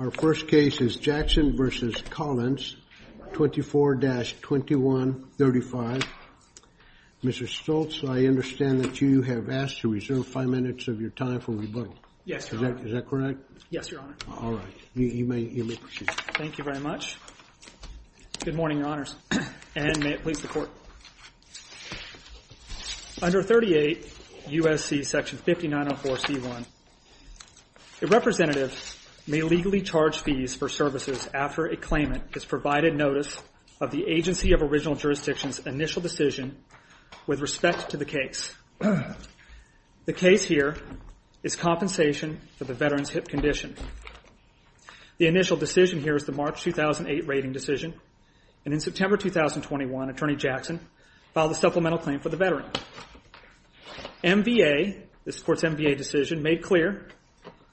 v. Jackson, 24-2135. Mr. Stoltz, I understand that you have asked to reserve five minutes of your time for rebuttal. Yes, Your Honor. Is that correct? Yes, Your Honor. All right. You may proceed. Thank you very much. Good morning, Your Honors. And may it please the Under 38 U.S.C. section 5904C1, a representative may legally charge fees for services after a claimant has provided notice of the agency of original jurisdiction's initial decision with respect to the case. The case here is compensation for the veteran's hip condition. The initial decision here is the March 2008 rating decision, and in September 2021, Attorney Jackson filed a supplemental claim for the veteran. MVA, this Court's MVA decision, made clear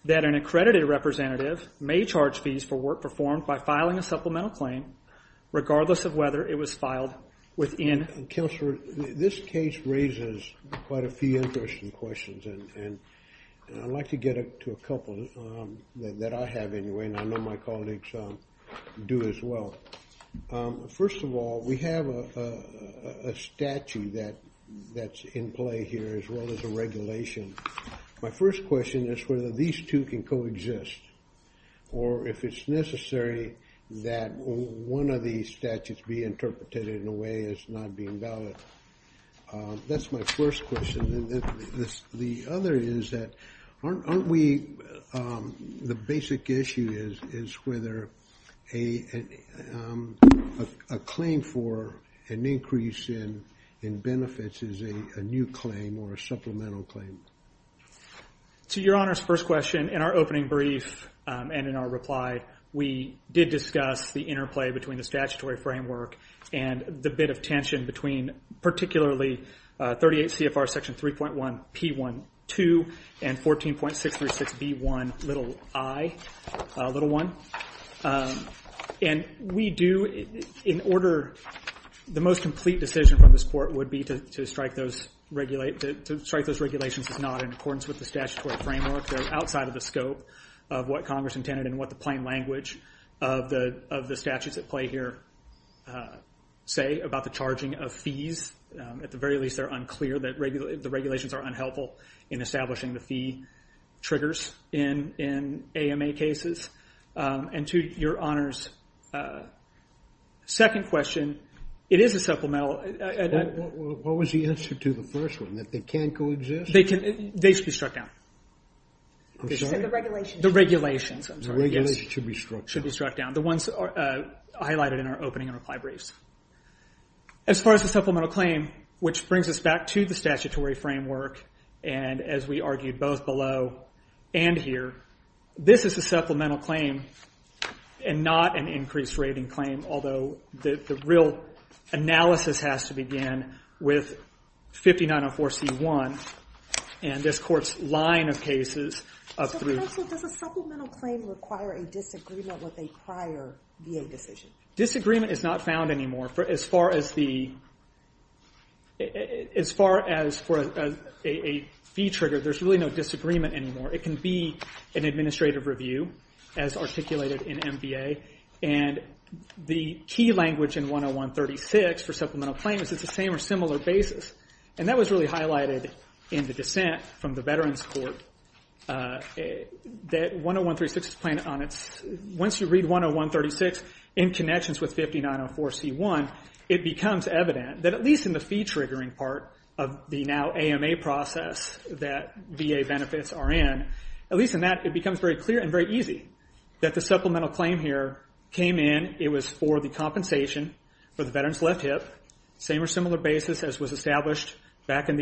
that an accredited representative may charge fees for work performed by filing a supplemental claim, regardless of whether it was filed within... Counselor, this case raises quite a few interesting questions, and I'd like to get to a couple that I have, anyway, and I know my colleagues do as well. First of all, we have a statute that's in play here, as well as a regulation. My first question is whether these two can coexist, or if it's necessary that one of these statutes be interpreted in a way as not being valid. That's my first question. The other is that, aren't we... The basic issue is whether a claim for an increase in benefits is a new claim or a supplemental claim. To Your Honor's first question, in our opening brief and in our reply, we did discuss the interplay between the statutory framework and the bit of tension between particularly 38 CFR Section 3.1 P.1.2 and 14.636 B.1 i. And we do, in order... The most complete decision from this Court would be to strike those regulations as not in accordance with the statutory framework. They're outside of the scope of what Congress intended and what the plain language of the statutes at play here say about the charging of fees. At the very least, they're unclear. The regulations are unhelpful in establishing the fee triggers in AMA cases. And to Your Honor's second question, it is a supplemental... What was the answer to the first one, that they can coexist? They should be struck down. I'm sorry? You said the regulations. The regulations. I'm sorry. The regulations should be struck down. Should be struck down. The ones highlighted in our opening and reply briefs. As far as the supplemental claim, which brings us back to the statutory framework, and as we argued both below and here, this is a supplemental claim and not an increased rating claim, although the real analysis has to begin with 5904 C.1. And this Court's line of cases... And also, does a supplemental claim require a disagreement with a prior VA decision? Disagreement is not found anymore. As far as a fee trigger, there's really no disagreement anymore. It can be an administrative review, as articulated in MVA. And the key language in 101-36 for supplemental claim is it's the same or similar basis. And that was really highlighted in the dissent from the Veterans Court that 101-36 is planned on its... Once you read 101-36 in connections with 5904 C.1, it becomes evident that at least in the fee triggering part of the now AMA process that VA benefits are in, at least in that, it becomes very clear and very easy that the supplemental claim here came in, it was for the compensation for the veteran's left hip, same or similar basis as was established back in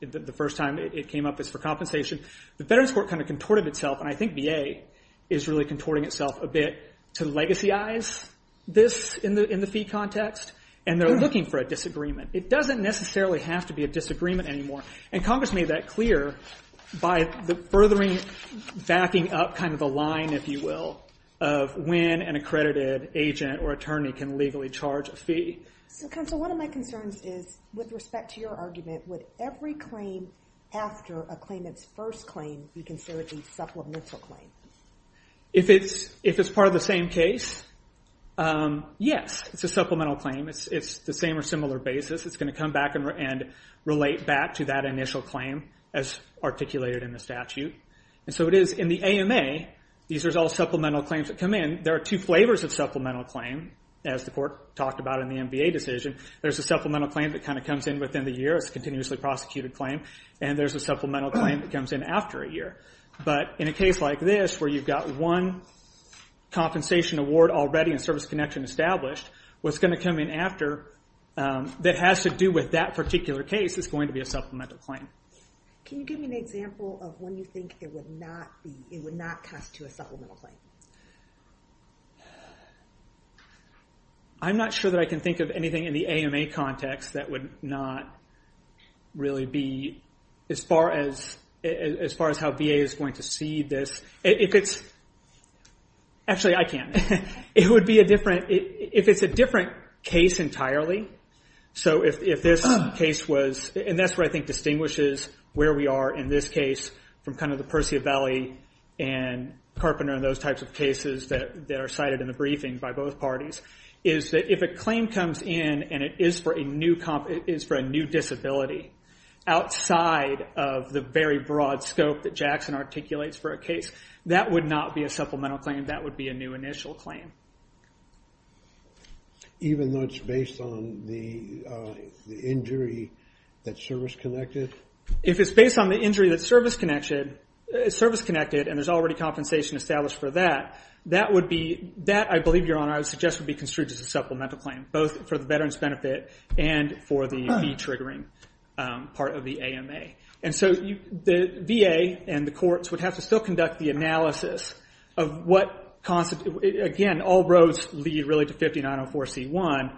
the first time it came up as for compensation. The Veterans Court kind of contorted itself, and I think VA is really contorting itself a bit, to legacyize this in the fee context, and they're looking for a disagreement. It doesn't necessarily have to be a disagreement anymore. And Congress made that clear by furthering, backing up kind of a line, if you will, of when an accredited agent or attorney can legally charge a fee. So counsel, one of my concerns is with respect to your argument, would every claim after a claimant's first claim be considered a supplemental claim? If it's part of the same case, yes, it's a supplemental claim. It's the same or similar basis. It's going to come back and relate back to that initial claim as articulated in the statute. And so it is in the AMA, these are all supplemental claims that come in. There are two flavors of supplemental claim, as the court talked about in the MVA decision. There's a supplemental claim that kind of comes in within the year, it's a continuously prosecuted claim, and there's a supplemental claim that comes in after a year. But in a case like this where you've got one compensation award already and service connection established, what's going to come in after that has to do with that particular case is going to be a supplemental claim. Can you give me an example of when you think it would not cost to a supplemental claim? I'm not sure that I can think of anything in the AMA context that would not really be as far as how VA is going to see this. Actually, I can. It would be a different, if it's a different case entirely, so if this case was, and that's what I think distinguishes where we are in this case from kind of the Persevali and Carpenter and those types of cases that are cited in the briefing by both parties, is that if a claim comes in and it is for a new disability, outside of the very broad scope that Jackson articulates for a case, that would not be a supplemental claim, that would be a new initial claim. Even though it's based on the injury that's service-connected? If it's based on the injury that's service-connected and there's already compensation established for that, that I believe, Your Honor, I would suggest would be construed as a supplemental claim, both for the veteran's benefit and for the V-triggering part of the AMA. And so the VA and the courts would have to still conduct the analysis of what constitutes, again, all roads lead really to 5904C1,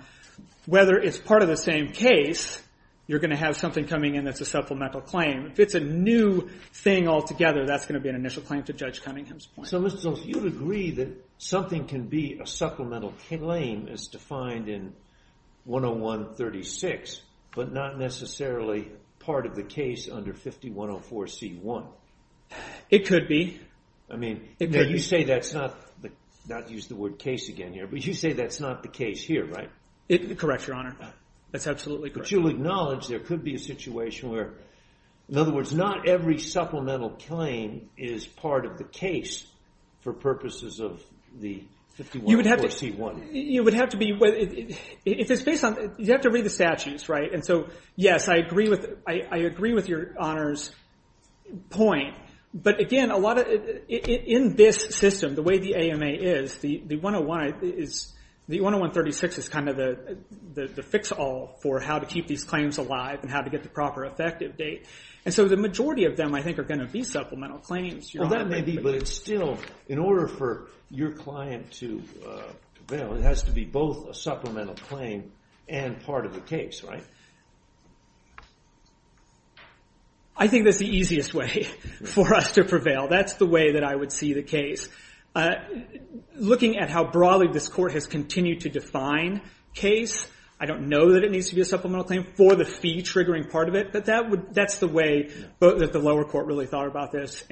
whether it's part of the same case, you're going to have something coming in that's a supplemental claim. If it's a new thing altogether, that's going to be an initial claim to Judge Cunningham's point. So, Mr. Jones, you would agree that something can be a supplemental claim as defined in 101-36, but not necessarily part of the case under 5104C1? It could be. I mean, you say that's not – not to use the word case again here – but you say that's not the case here, right? Correct, Your Honor. That's absolutely correct. But you'll acknowledge there could be a situation where, in other words, not every supplemental claim is part of the case for purposes of the 5104C1. You would have to be – if it's based on – you have to read the statutes, right? And so, yes, I agree with Your Honor's point. But, again, a lot of – in this system, the way the AMA is, the 101 is – the 101-36 is kind of the fix-all for how to keep these claims alive and how to get the proper effective date. And so the majority of them, I think, are going to be supplemental claims, Your Honor. Well, that may be, but it's still – in order for your client to – it has to be both a supplemental claim and part of the case, right? I think that's the easiest way for us to prevail. That's the way that I would see the case. Looking at how broadly this Court has continued to define case, I don't know that it needs to be a supplemental claim for the fee-triggering part of it, but that's the way that the lower court really thought about this.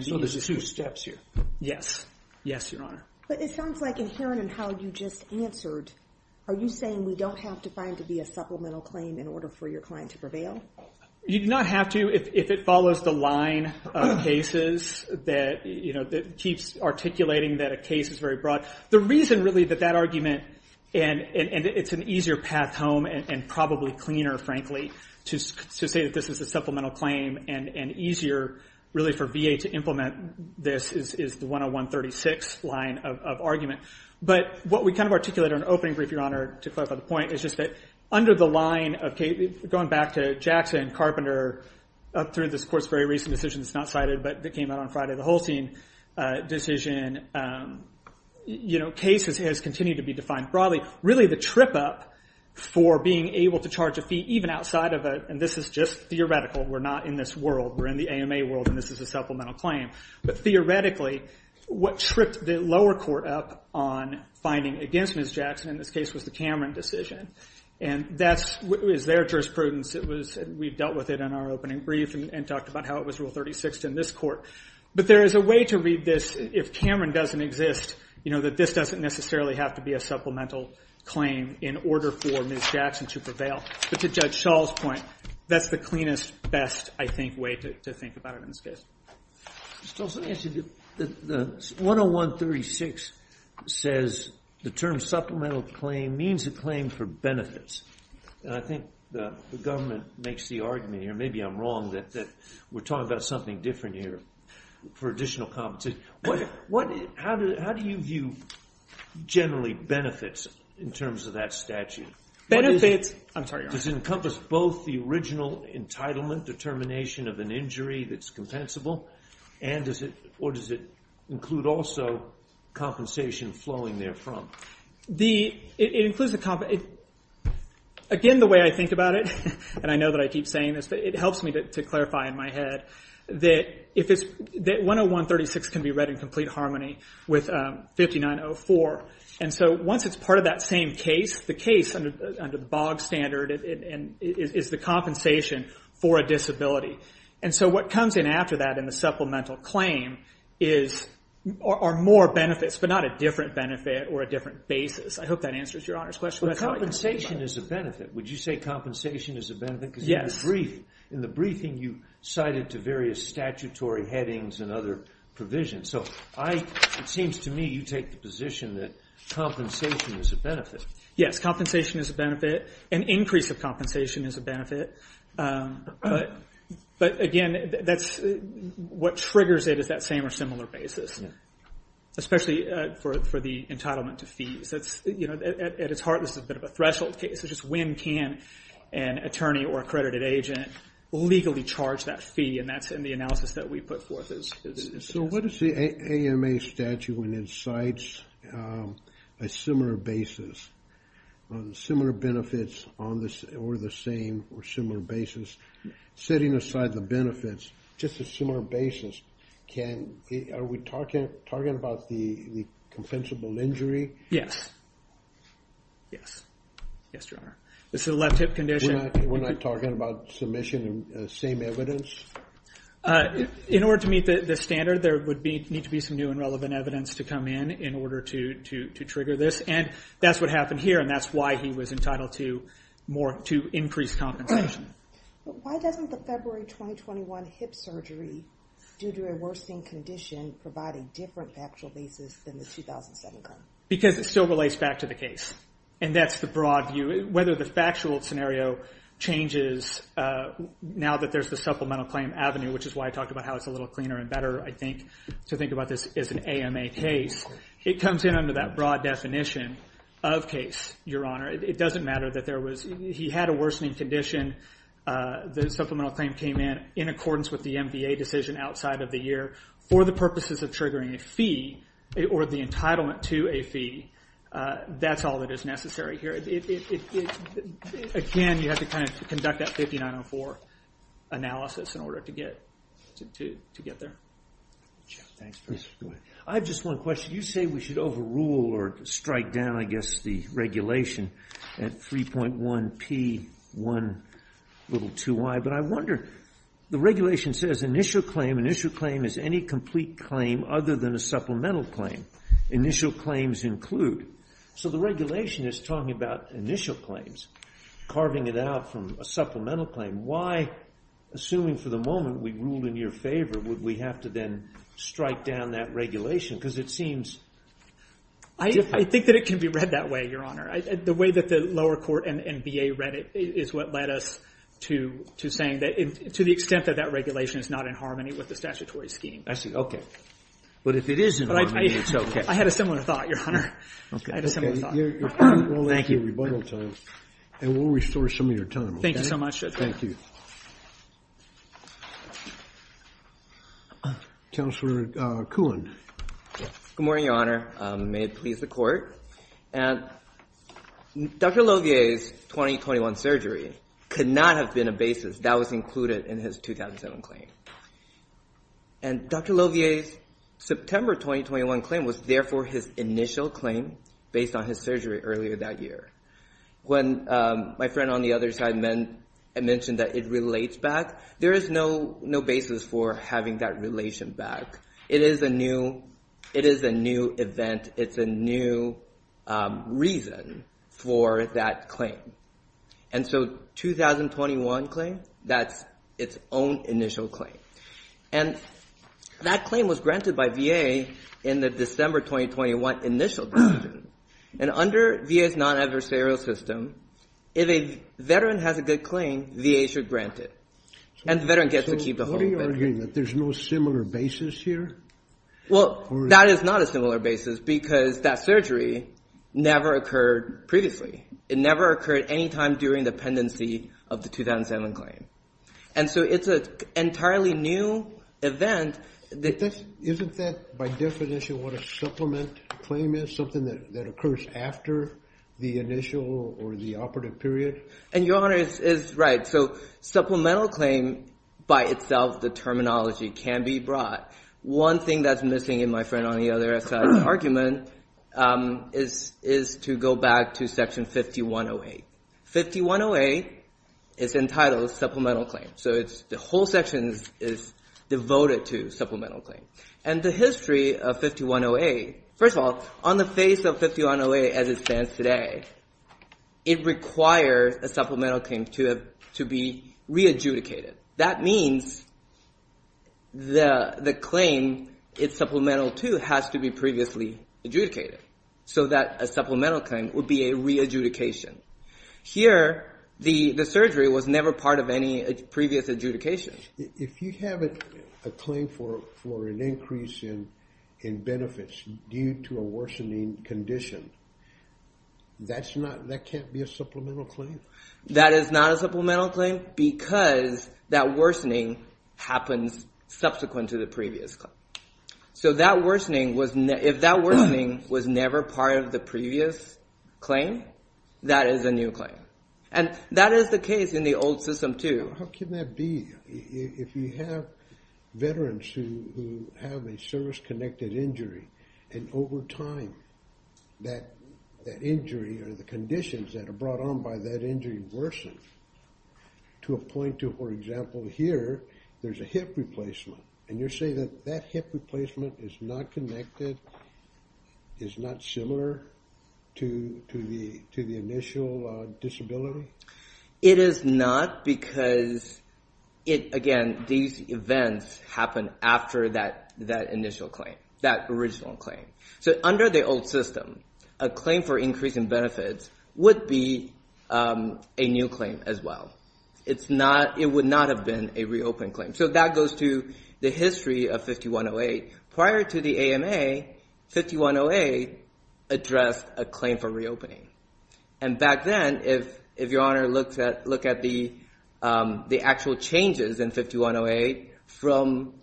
So there's two steps here. Yes. Yes, Your Honor. But it sounds like, inherent in how you just answered, are you saying we don't have to find it to be a supplemental claim in order for your client to prevail? You do not have to if it follows the line of cases that, you know, keeps articulating that a case is very broad. The reason, really, that that argument – and it's an easier path home and probably cleaner, frankly, to say that this is a supplemental claim and easier, really, for VA to implement this is the 101-36 line of argument. But what we kind of articulated in our opening brief, Your Honor, to clarify the point, is just that under the line of – going back to Jackson and Carpenter, up through this Court's very recent decision that's not cited but that came out on Friday, the Holstein decision, you know, cases has continued to be defined broadly. Really, the trip-up for being able to charge a fee, even outside of a – and this is just theoretical, we're not in this world, we're in the AMA world, and this is a supplemental claim. But theoretically, what tripped the lower court up on finding against Ms. Jackson, in this case, was the Cameron decision. And that was their jurisprudence. It was – we've dealt with it in our opening brief and talked about how it was Rule 36 in this Court. But there is a way to read this if Cameron doesn't exist, you know, that this doesn't necessarily have to be a supplemental claim in order for Ms. Jackson to prevail. But to Judge Schall's point, that's the cleanest, best, I think, way to think about it in this case. Just also to answer, the 101-36 says the term supplemental claim means a claim for benefits. And I think the government makes the argument here, and maybe I'm wrong, that we're talking about something different here for additional compensation. How do you view generally benefits in terms of that statute? Benefits – I'm sorry, Your Honor. Does it encompass both the original entitlement determination of an injury that's compensable, or does it include also compensation flowing therefrom? It includes the – again, the way I think about it, and I know that I keep saying this, but it helps me to clarify in my head that 101-36 can be read in complete harmony with 5904. And so once it's part of that same case, the case under the BOG standard is the compensation for a disability. And so what comes in after that in the supplemental claim are more benefits, but not a different benefit or a different basis. I hope that answers Your Honor's question. But compensation is a benefit. Would you say compensation is a benefit? Yes. Because in the briefing you cited to various statutory headings and other provisions. So it seems to me you take the position that compensation is a benefit. Yes, compensation is a benefit. An increase of compensation is a benefit. But, again, what triggers it is that same or similar basis, especially for the entitlement to fees. At its heart, this is a bit of a threshold case. It's just when can an attorney or accredited agent legally charge that fee, and that's in the analysis that we put forth. So what is the AMA statute when it cites a similar basis, similar benefits or the same or similar basis? Setting aside the benefits, just a similar basis, are we talking about the compensable injury? Yes. Yes. Yes, Your Honor. This is a left hip condition. We're not talking about submission of the same evidence? In order to meet the standard, there would need to be some new and relevant evidence to come in in order to trigger this. And that's what happened here, and that's why he was entitled to increased compensation. Why doesn't the February 2021 hip surgery, due to a worsening condition, provide a different factual basis than the 2007 claim? Because it still relates back to the case, and that's the broad view. Whether the factual scenario changes now that there's the supplemental claim avenue, which is why I talked about how it's a little cleaner and better, I think, to think about this as an AMA case, it comes in under that broad definition of case, Your Honor. It doesn't matter that there was he had a worsening condition, the supplemental claim came in, in accordance with the MVA decision outside of the year. For the purposes of triggering a fee or the entitlement to a fee, that's all that is necessary here. Again, you have to kind of conduct that 5904 analysis in order to get there. Thanks, Professor. I have just one question. You say we should overrule or strike down, I guess, the regulation at 3.1P.1.2Y, but I wonder, the regulation says initial claim, initial claim is any complete claim other than a supplemental claim. Initial claims include. So the regulation is talking about initial claims, carving it out from a supplemental claim. Why, assuming for the moment we ruled in your favor, would we have to then strike down that regulation? Because it seems. I think that it can be read that way, Your Honor. The way that the lower court and VA read it is what led us to saying that, to the extent that that regulation is not in harmony with the statutory scheme. I see. Okay. But if it is in harmony, it's okay. I had a similar thought, Your Honor. I had a similar thought. Thank you. We'll let you rebuttal time, and we'll restore some of your time. Thank you so much, Judge. Thank you. Counselor Kuhn. Good morning, Your Honor. May it please the court. Dr. Lovier's 2021 surgery could not have been a basis. That was included in his 2007 claim. And Dr. Lovier's September 2021 claim was, therefore, his initial claim based on his surgery earlier that year. When my friend on the other side mentioned that it relates back, there is no basis for having that relation back. It is a new event. It's a new reason for that claim. And so 2021 claim, that's its own initial claim. And that claim was granted by VA in the December 2021 initial decision. And under VA's non-adversarial system, if a veteran has a good claim, VA should grant it. And the veteran gets to keep the whole veteran. So what are you arguing? That there's no similar basis here? Well, that is not a similar basis, because that surgery never occurred previously. It never occurred any time during the pendency of the 2007 claim. And so it's an entirely new event. Isn't that, by definition, what a supplement claim is, something that occurs after the initial or the operative period? And Your Honor is right. So supplemental claim by itself, the terminology, can be brought. One thing that's missing in my friend on the other side's argument is to go back to Section 5108. 5108 is entitled supplemental claim. So the whole section is devoted to supplemental claim. And the history of 5108, first of all, on the face of 5108 as it stands today, it requires a supplemental claim to be re-adjudicated. That means the claim it's supplemental to has to be previously adjudicated so that a supplemental claim would be a re-adjudication. Here, the surgery was never part of any previous adjudication. If you have a claim for an increase in benefits due to a worsening condition, that can't be a supplemental claim. That is not a supplemental claim because that worsening happens subsequent to the previous claim. So if that worsening was never part of the previous claim, that is a new claim. And that is the case in the old system too. How can that be if you have veterans who have a service-connected injury and over time that injury or the conditions that are brought on by that injury worsen to a point to, for example, here, there's a hip replacement. And you're saying that that hip replacement is not connected, is not similar to the initial disability? It is not because, again, these events happen after that initial claim. So under the old system, a claim for increase in benefits would be a new claim as well. It would not have been a reopened claim. So that goes to the history of 5108. Prior to the AMA, 5108 addressed a claim for reopening. And back then, if Your Honor looked at the actual changes in 5108 from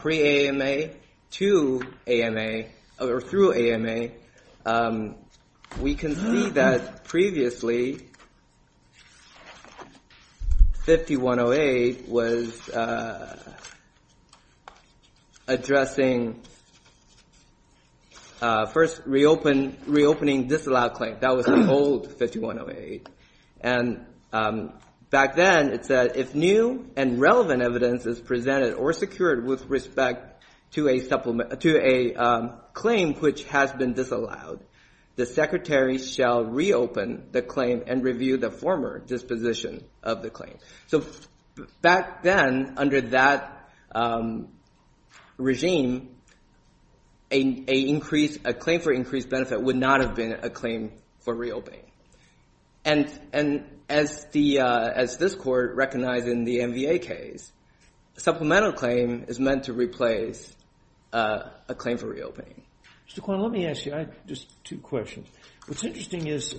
pre-AMA to AMA or through AMA, we can see that previously 5108 was addressing first reopening disallowed claim. That was the old 5108. And back then it said, if new and relevant evidence is presented or secured with respect to a claim which has been disallowed, the Secretary shall reopen the claim and review the former disposition of the claim. So back then, under that regime, a claim for increased benefit would not have been a claim for reopening. And as this Court recognized in the MVA case, a supplemental claim is meant to replace a claim for reopening. Mr. Kwan, let me ask you just two questions. What's interesting is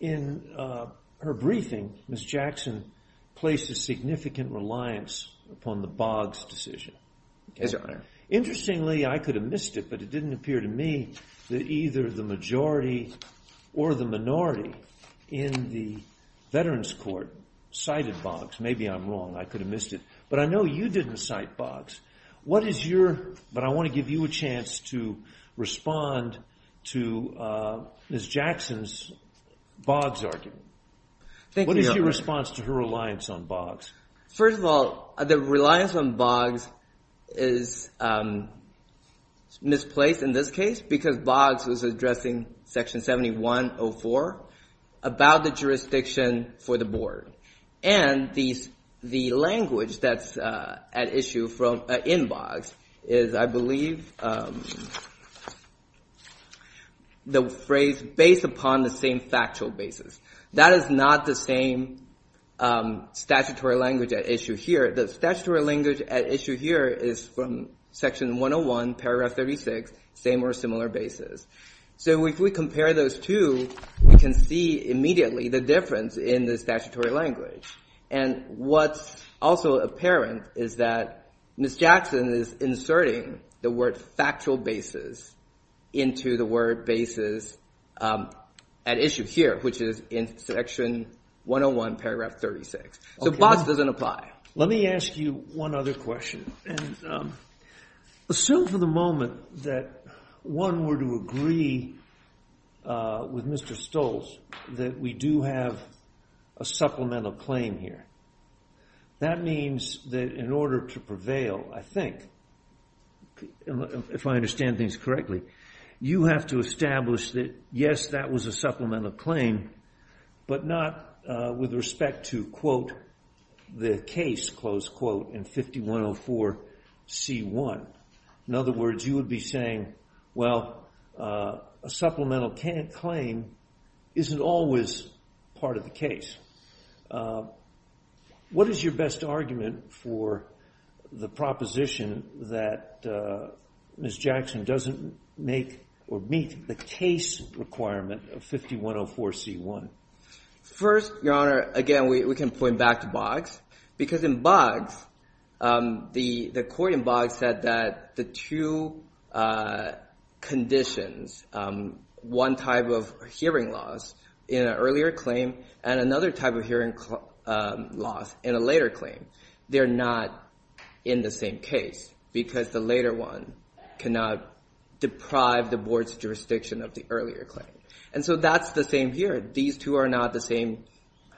in her briefing, Ms. Jackson placed a significant reliance upon the Boggs decision. Yes, Your Honor. Interestingly, I could have missed it, but it didn't appear to me that either the majority or the minority in the Veterans Court cited Boggs. Maybe I'm wrong. I could have missed it. But I know you didn't cite Boggs. But I want to give you a chance to respond to Ms. Jackson's Boggs argument. Thank you, Your Honor. What is your response to her reliance on Boggs? First of all, the reliance on Boggs is misplaced in this case because Boggs was addressing Section 7104 about the jurisdiction for the board. And the language that's at issue in Boggs is, I believe, the phrase, based upon the same factual basis. That is not the same statutory language at issue here. The statutory language at issue here is from Section 101, Paragraph 36, same or similar basis. So if we compare those two, we can see immediately the difference in the statutory language. And what's also apparent is that Ms. Jackson is inserting the word factual basis into the word basis at issue here, which is in Section 101, Paragraph 36. So Boggs doesn't apply. Let me ask you one other question. Assume for the moment that one were to agree with Mr. Stoltz that we do have a supplemental claim here. That means that in order to prevail, I think, if I understand things correctly, you have to establish that, yes, that was a supplemental claim, but not with respect to, quote, the case, close quote, in 5104C1. In other words, you would be saying, well, a supplemental claim isn't always part of the case. What is your best argument for the proposition that Ms. Jackson doesn't make or meet the case requirement of 5104C1? First, Your Honor, again, we can point back to Boggs. Because in Boggs, the court in Boggs said that the two conditions, one type of hearing loss in an earlier claim and another type of hearing loss in a later claim, they're not in the same case because the later one cannot deprive the board's jurisdiction of the earlier claim. And so that's the same here. These two are not the same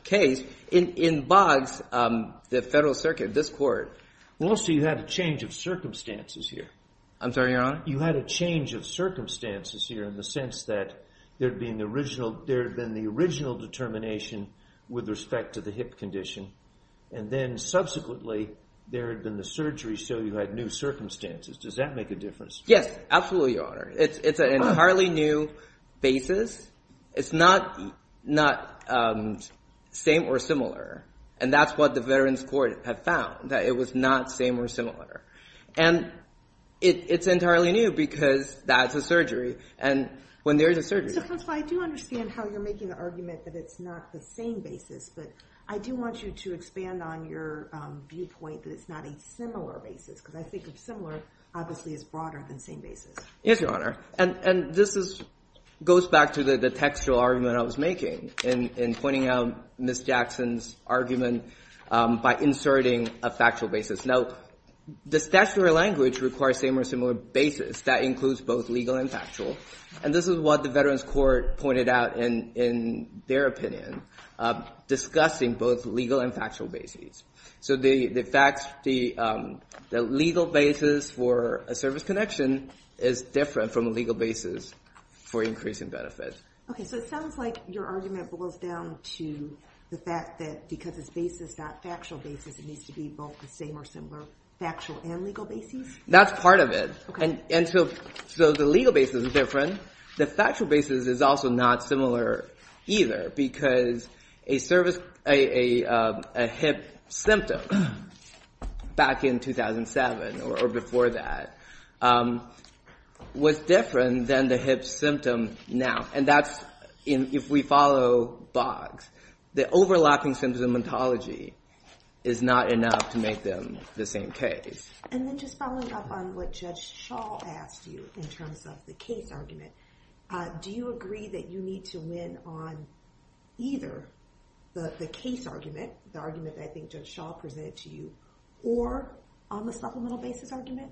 case. In Boggs, the Federal Circuit, this court- Well, so you have a change of circumstances here. I'm sorry, Your Honor? You had a change of circumstances here in the sense that there had been the original determination with respect to the hip condition. And then subsequently, there had been the surgery, so you had new circumstances. Does that make a difference? Yes, absolutely, Your Honor. It's an entirely new basis. It's not same or similar. And that's what the Veterans Court had found, that it was not same or similar. And it's entirely new because that's a surgery. And when there's a surgery- So, Counselor, I do understand how you're making the argument that it's not the same basis, but I do want you to expand on your viewpoint that it's not a similar basis because I think of similar obviously as broader than same basis. Yes, Your Honor. And this goes back to the textual argument I was making in pointing out Ms. Jackson's argument by inserting a factual basis. Now, the statutory language requires same or similar basis. That includes both legal and factual. And this is what the Veterans Court pointed out in their opinion, discussing both legal and factual basis. So the legal basis for a service connection is different from a legal basis for increasing benefit. Okay, so it sounds like your argument boils down to the fact that because it's basis, not factual basis, it needs to be both the same or similar factual and legal basis? That's part of it. And so the legal basis is different. The factual basis is also not similar either because a hip symptom back in 2007 or before that was different than the hip symptom now. And that's if we follow Boggs, the overlapping symptomatology is not enough to make them the same case. And then just following up on what Judge Shaw asked you in terms of the case argument, do you agree that you need to win on either the case argument, the argument that I think Judge Shaw presented to you, or on the supplemental basis argument?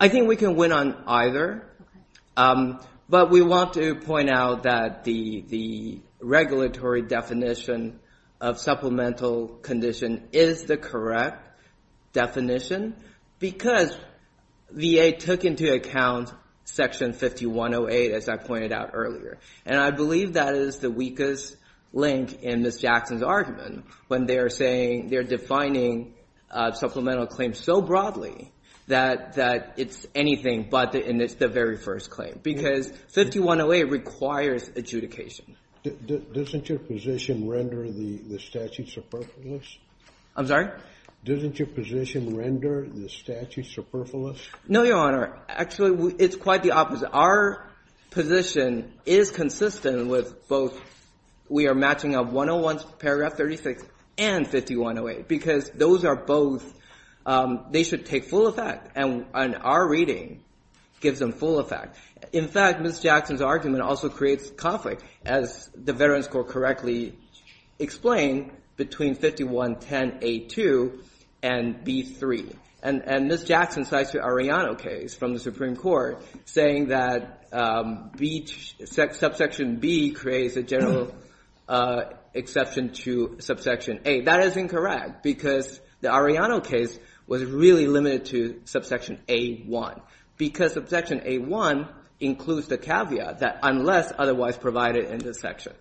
I think we can win on either. Okay. But we want to point out that the regulatory definition of supplemental condition is the correct definition because VA took into account Section 5108, as I pointed out earlier. And I believe that is the weakest link in Ms. Jackson's argument, they're defining supplemental claims so broadly that it's anything but the very first claim because 5108 requires adjudication. Doesn't your position render the statute superfluous? I'm sorry? Doesn't your position render the statute superfluous? No, Your Honor. Actually, it's quite the opposite. Our position is consistent with both. We are matching up 101 paragraph 36 and 5108 because those are both, they should take full effect. And our reading gives them full effect. In fact, Ms. Jackson's argument also creates conflict, as the Veterans Court correctly explained, between 5110A2 and B3. And Ms. Jackson cites the Arellano case from the Supreme Court saying that subsection B creates a general exception to subsection A. That is incorrect because the Arellano case was really limited to subsection A1 because subsection A1 includes the caveat that unless otherwise provided in this section.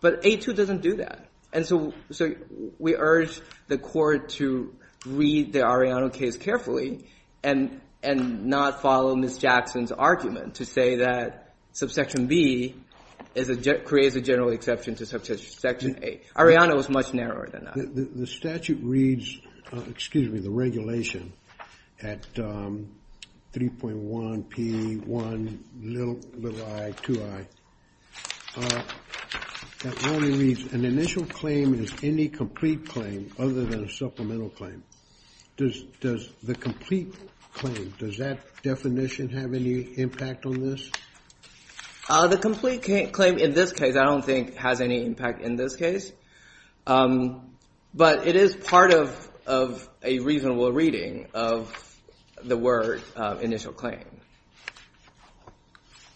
But A2 doesn't do that. And so we urge the court to read the Arellano case carefully and not follow Ms. Jackson's argument to say that subsection B creates a general exception to subsection A. Arellano is much narrower than that. The statute reads, excuse me, the regulation at 3.1P1i2i. That only reads an initial claim is any complete claim other than a supplemental claim. Does the complete claim, does that definition have any impact on this? The complete claim in this case I don't think has any impact in this case. But it is part of a reasonable reading of the word initial claim.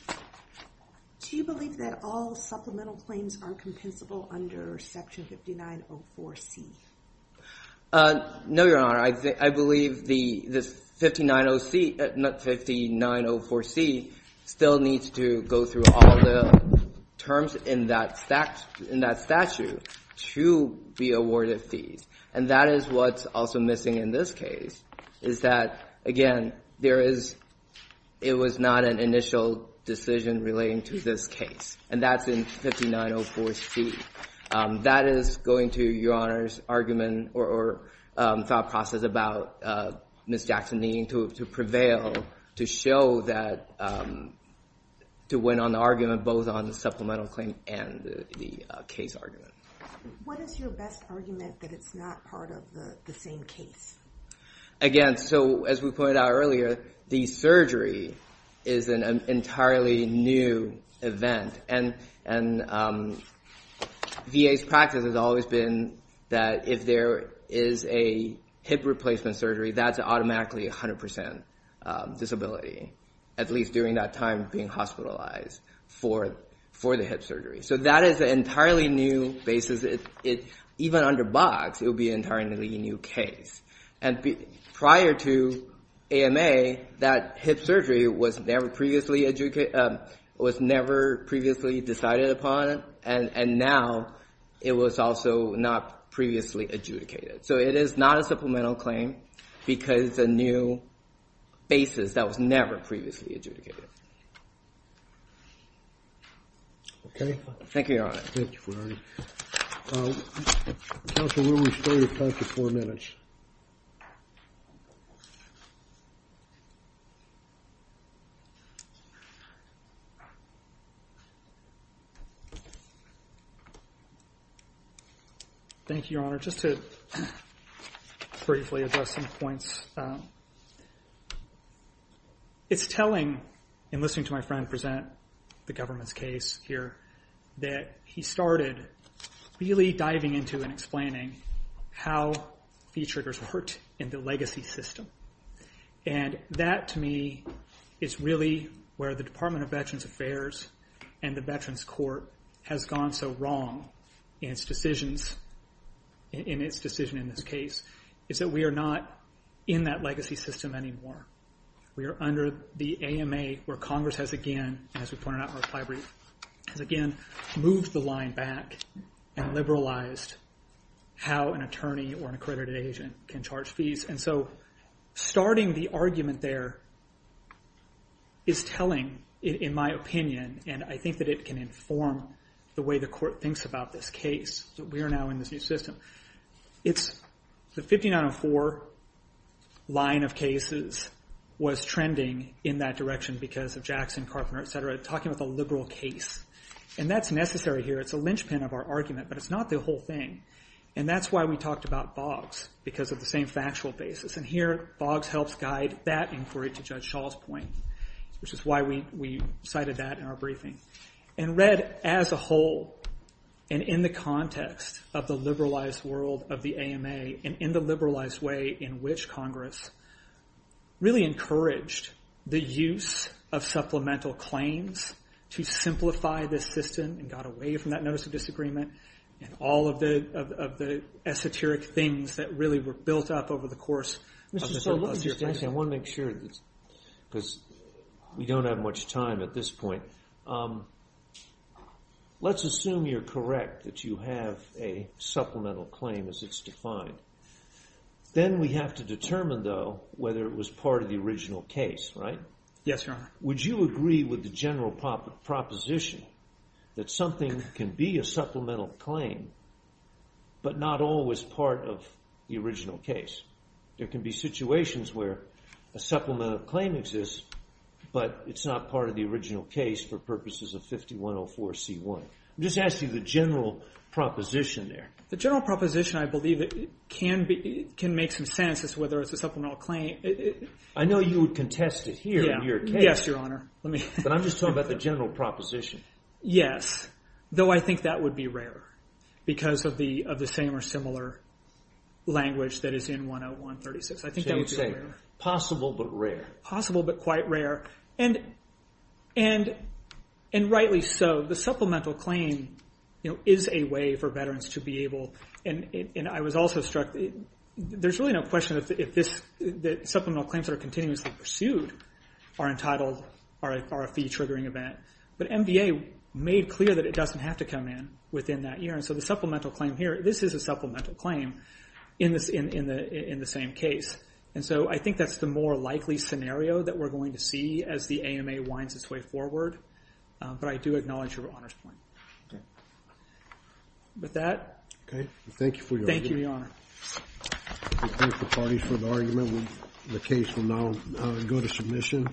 Do you believe that all supplemental claims are compensable under section 5904C? No, Your Honor. I believe this 5904C still needs to go through all the terms in that statute to be awarded fees. And that is what's also missing in this case is that, again, there is, it was not an initial decision relating to this case. And that's in 5904C. That is going to Your Honor's argument or thought process about Ms. Jackson needing to prevail to show that, to win on the argument both on the supplemental claim and the case argument. What is your best argument that it's not part of the same case? Again, so as we pointed out earlier, the surgery is an entirely new event. And VA's practice has always been that if there is a hip replacement surgery, that's automatically 100% disability. At least during that time being hospitalized for the hip surgery. So that is an entirely new basis. Even under Box, it would be an entirely new case. And prior to AMA, that hip surgery was never previously decided upon. And now it was also not previously adjudicated. So it is not a supplemental claim because it's a new basis that was never previously adjudicated. Okay. Thank you, Your Honor. Thank you, Ferrari. Counsel, we'll restore your time to four minutes. Thank you, Your Honor. Just to briefly address some points. It's telling in listening to my friend present the government's case here that he started really diving into and explaining how fee triggers worked in the legacy system. And that to me is really where the Department of Veterans Affairs and the Veterans Court has gone so wrong in its decisions, in its decision in this case, is that we are not in that legacy system anymore. We are under the AMA where Congress has again, as we pointed out in our reply brief, has again moved the line back and liberalized how an attorney or an accredited agent can charge fees. And so starting the argument there is telling in my opinion, and I think that it can inform the way the court thinks about this case. We are now in this new system. It's the 5904 line of cases was trending in that direction because of Jackson, Carpenter, et cetera, talking about the liberal case. And that's necessary here. It's a linchpin of our argument, but it's not the whole thing. And that's why we talked about Boggs because of the same factual basis. And here Boggs helps guide that inquiry to Judge Shaw's point, which is why we cited that in our briefing. And read as a whole and in the context of the liberalized world of the AMA and in the liberalized way in which Congress really encouraged the use of supplemental claims to simplify this system and got away from that notice of disagreement and all of the esoteric things that really were built up over the course of the surplus year. Mr. Stowe, let me just ask you. I want to make sure because we don't have much time at this point. Let's assume you're correct that you have a supplemental claim as it's defined. Then we have to determine though whether it was part of the original case, right? Yes, Your Honor. Would you agree with the general proposition that something can be a supplemental claim but not always part of the original case? There can be situations where a supplemental claim exists, but it's not part of the original case for purposes of 5104C1. I'm just asking the general proposition there. The general proposition I believe can make some sense as to whether it's a supplemental claim. I know you would contest it here in your case. Yes, Your Honor. I'm just talking about the general proposition. Yes, though I think that would be rare because of the same or similar language that is in 10136. I think that would be rare. Possible but rare. Possible but quite rare. Rightly so. The supplemental claim is a way for veterans to be able, and I was also struck, there's really no question that supplemental claims that are continuously pursued are a fee-triggering event. But MVA made clear that it doesn't have to come in within that year. So the supplemental claim here, this is a supplemental claim in the same case. And so I think that's the more likely scenario that we're going to see as the AMA winds its way forward. But I do acknowledge Your Honor's point. Okay. With that. Okay. Thank you for your argument. Thank you, Your Honor. We thank the parties for the argument. The case will now go to submission.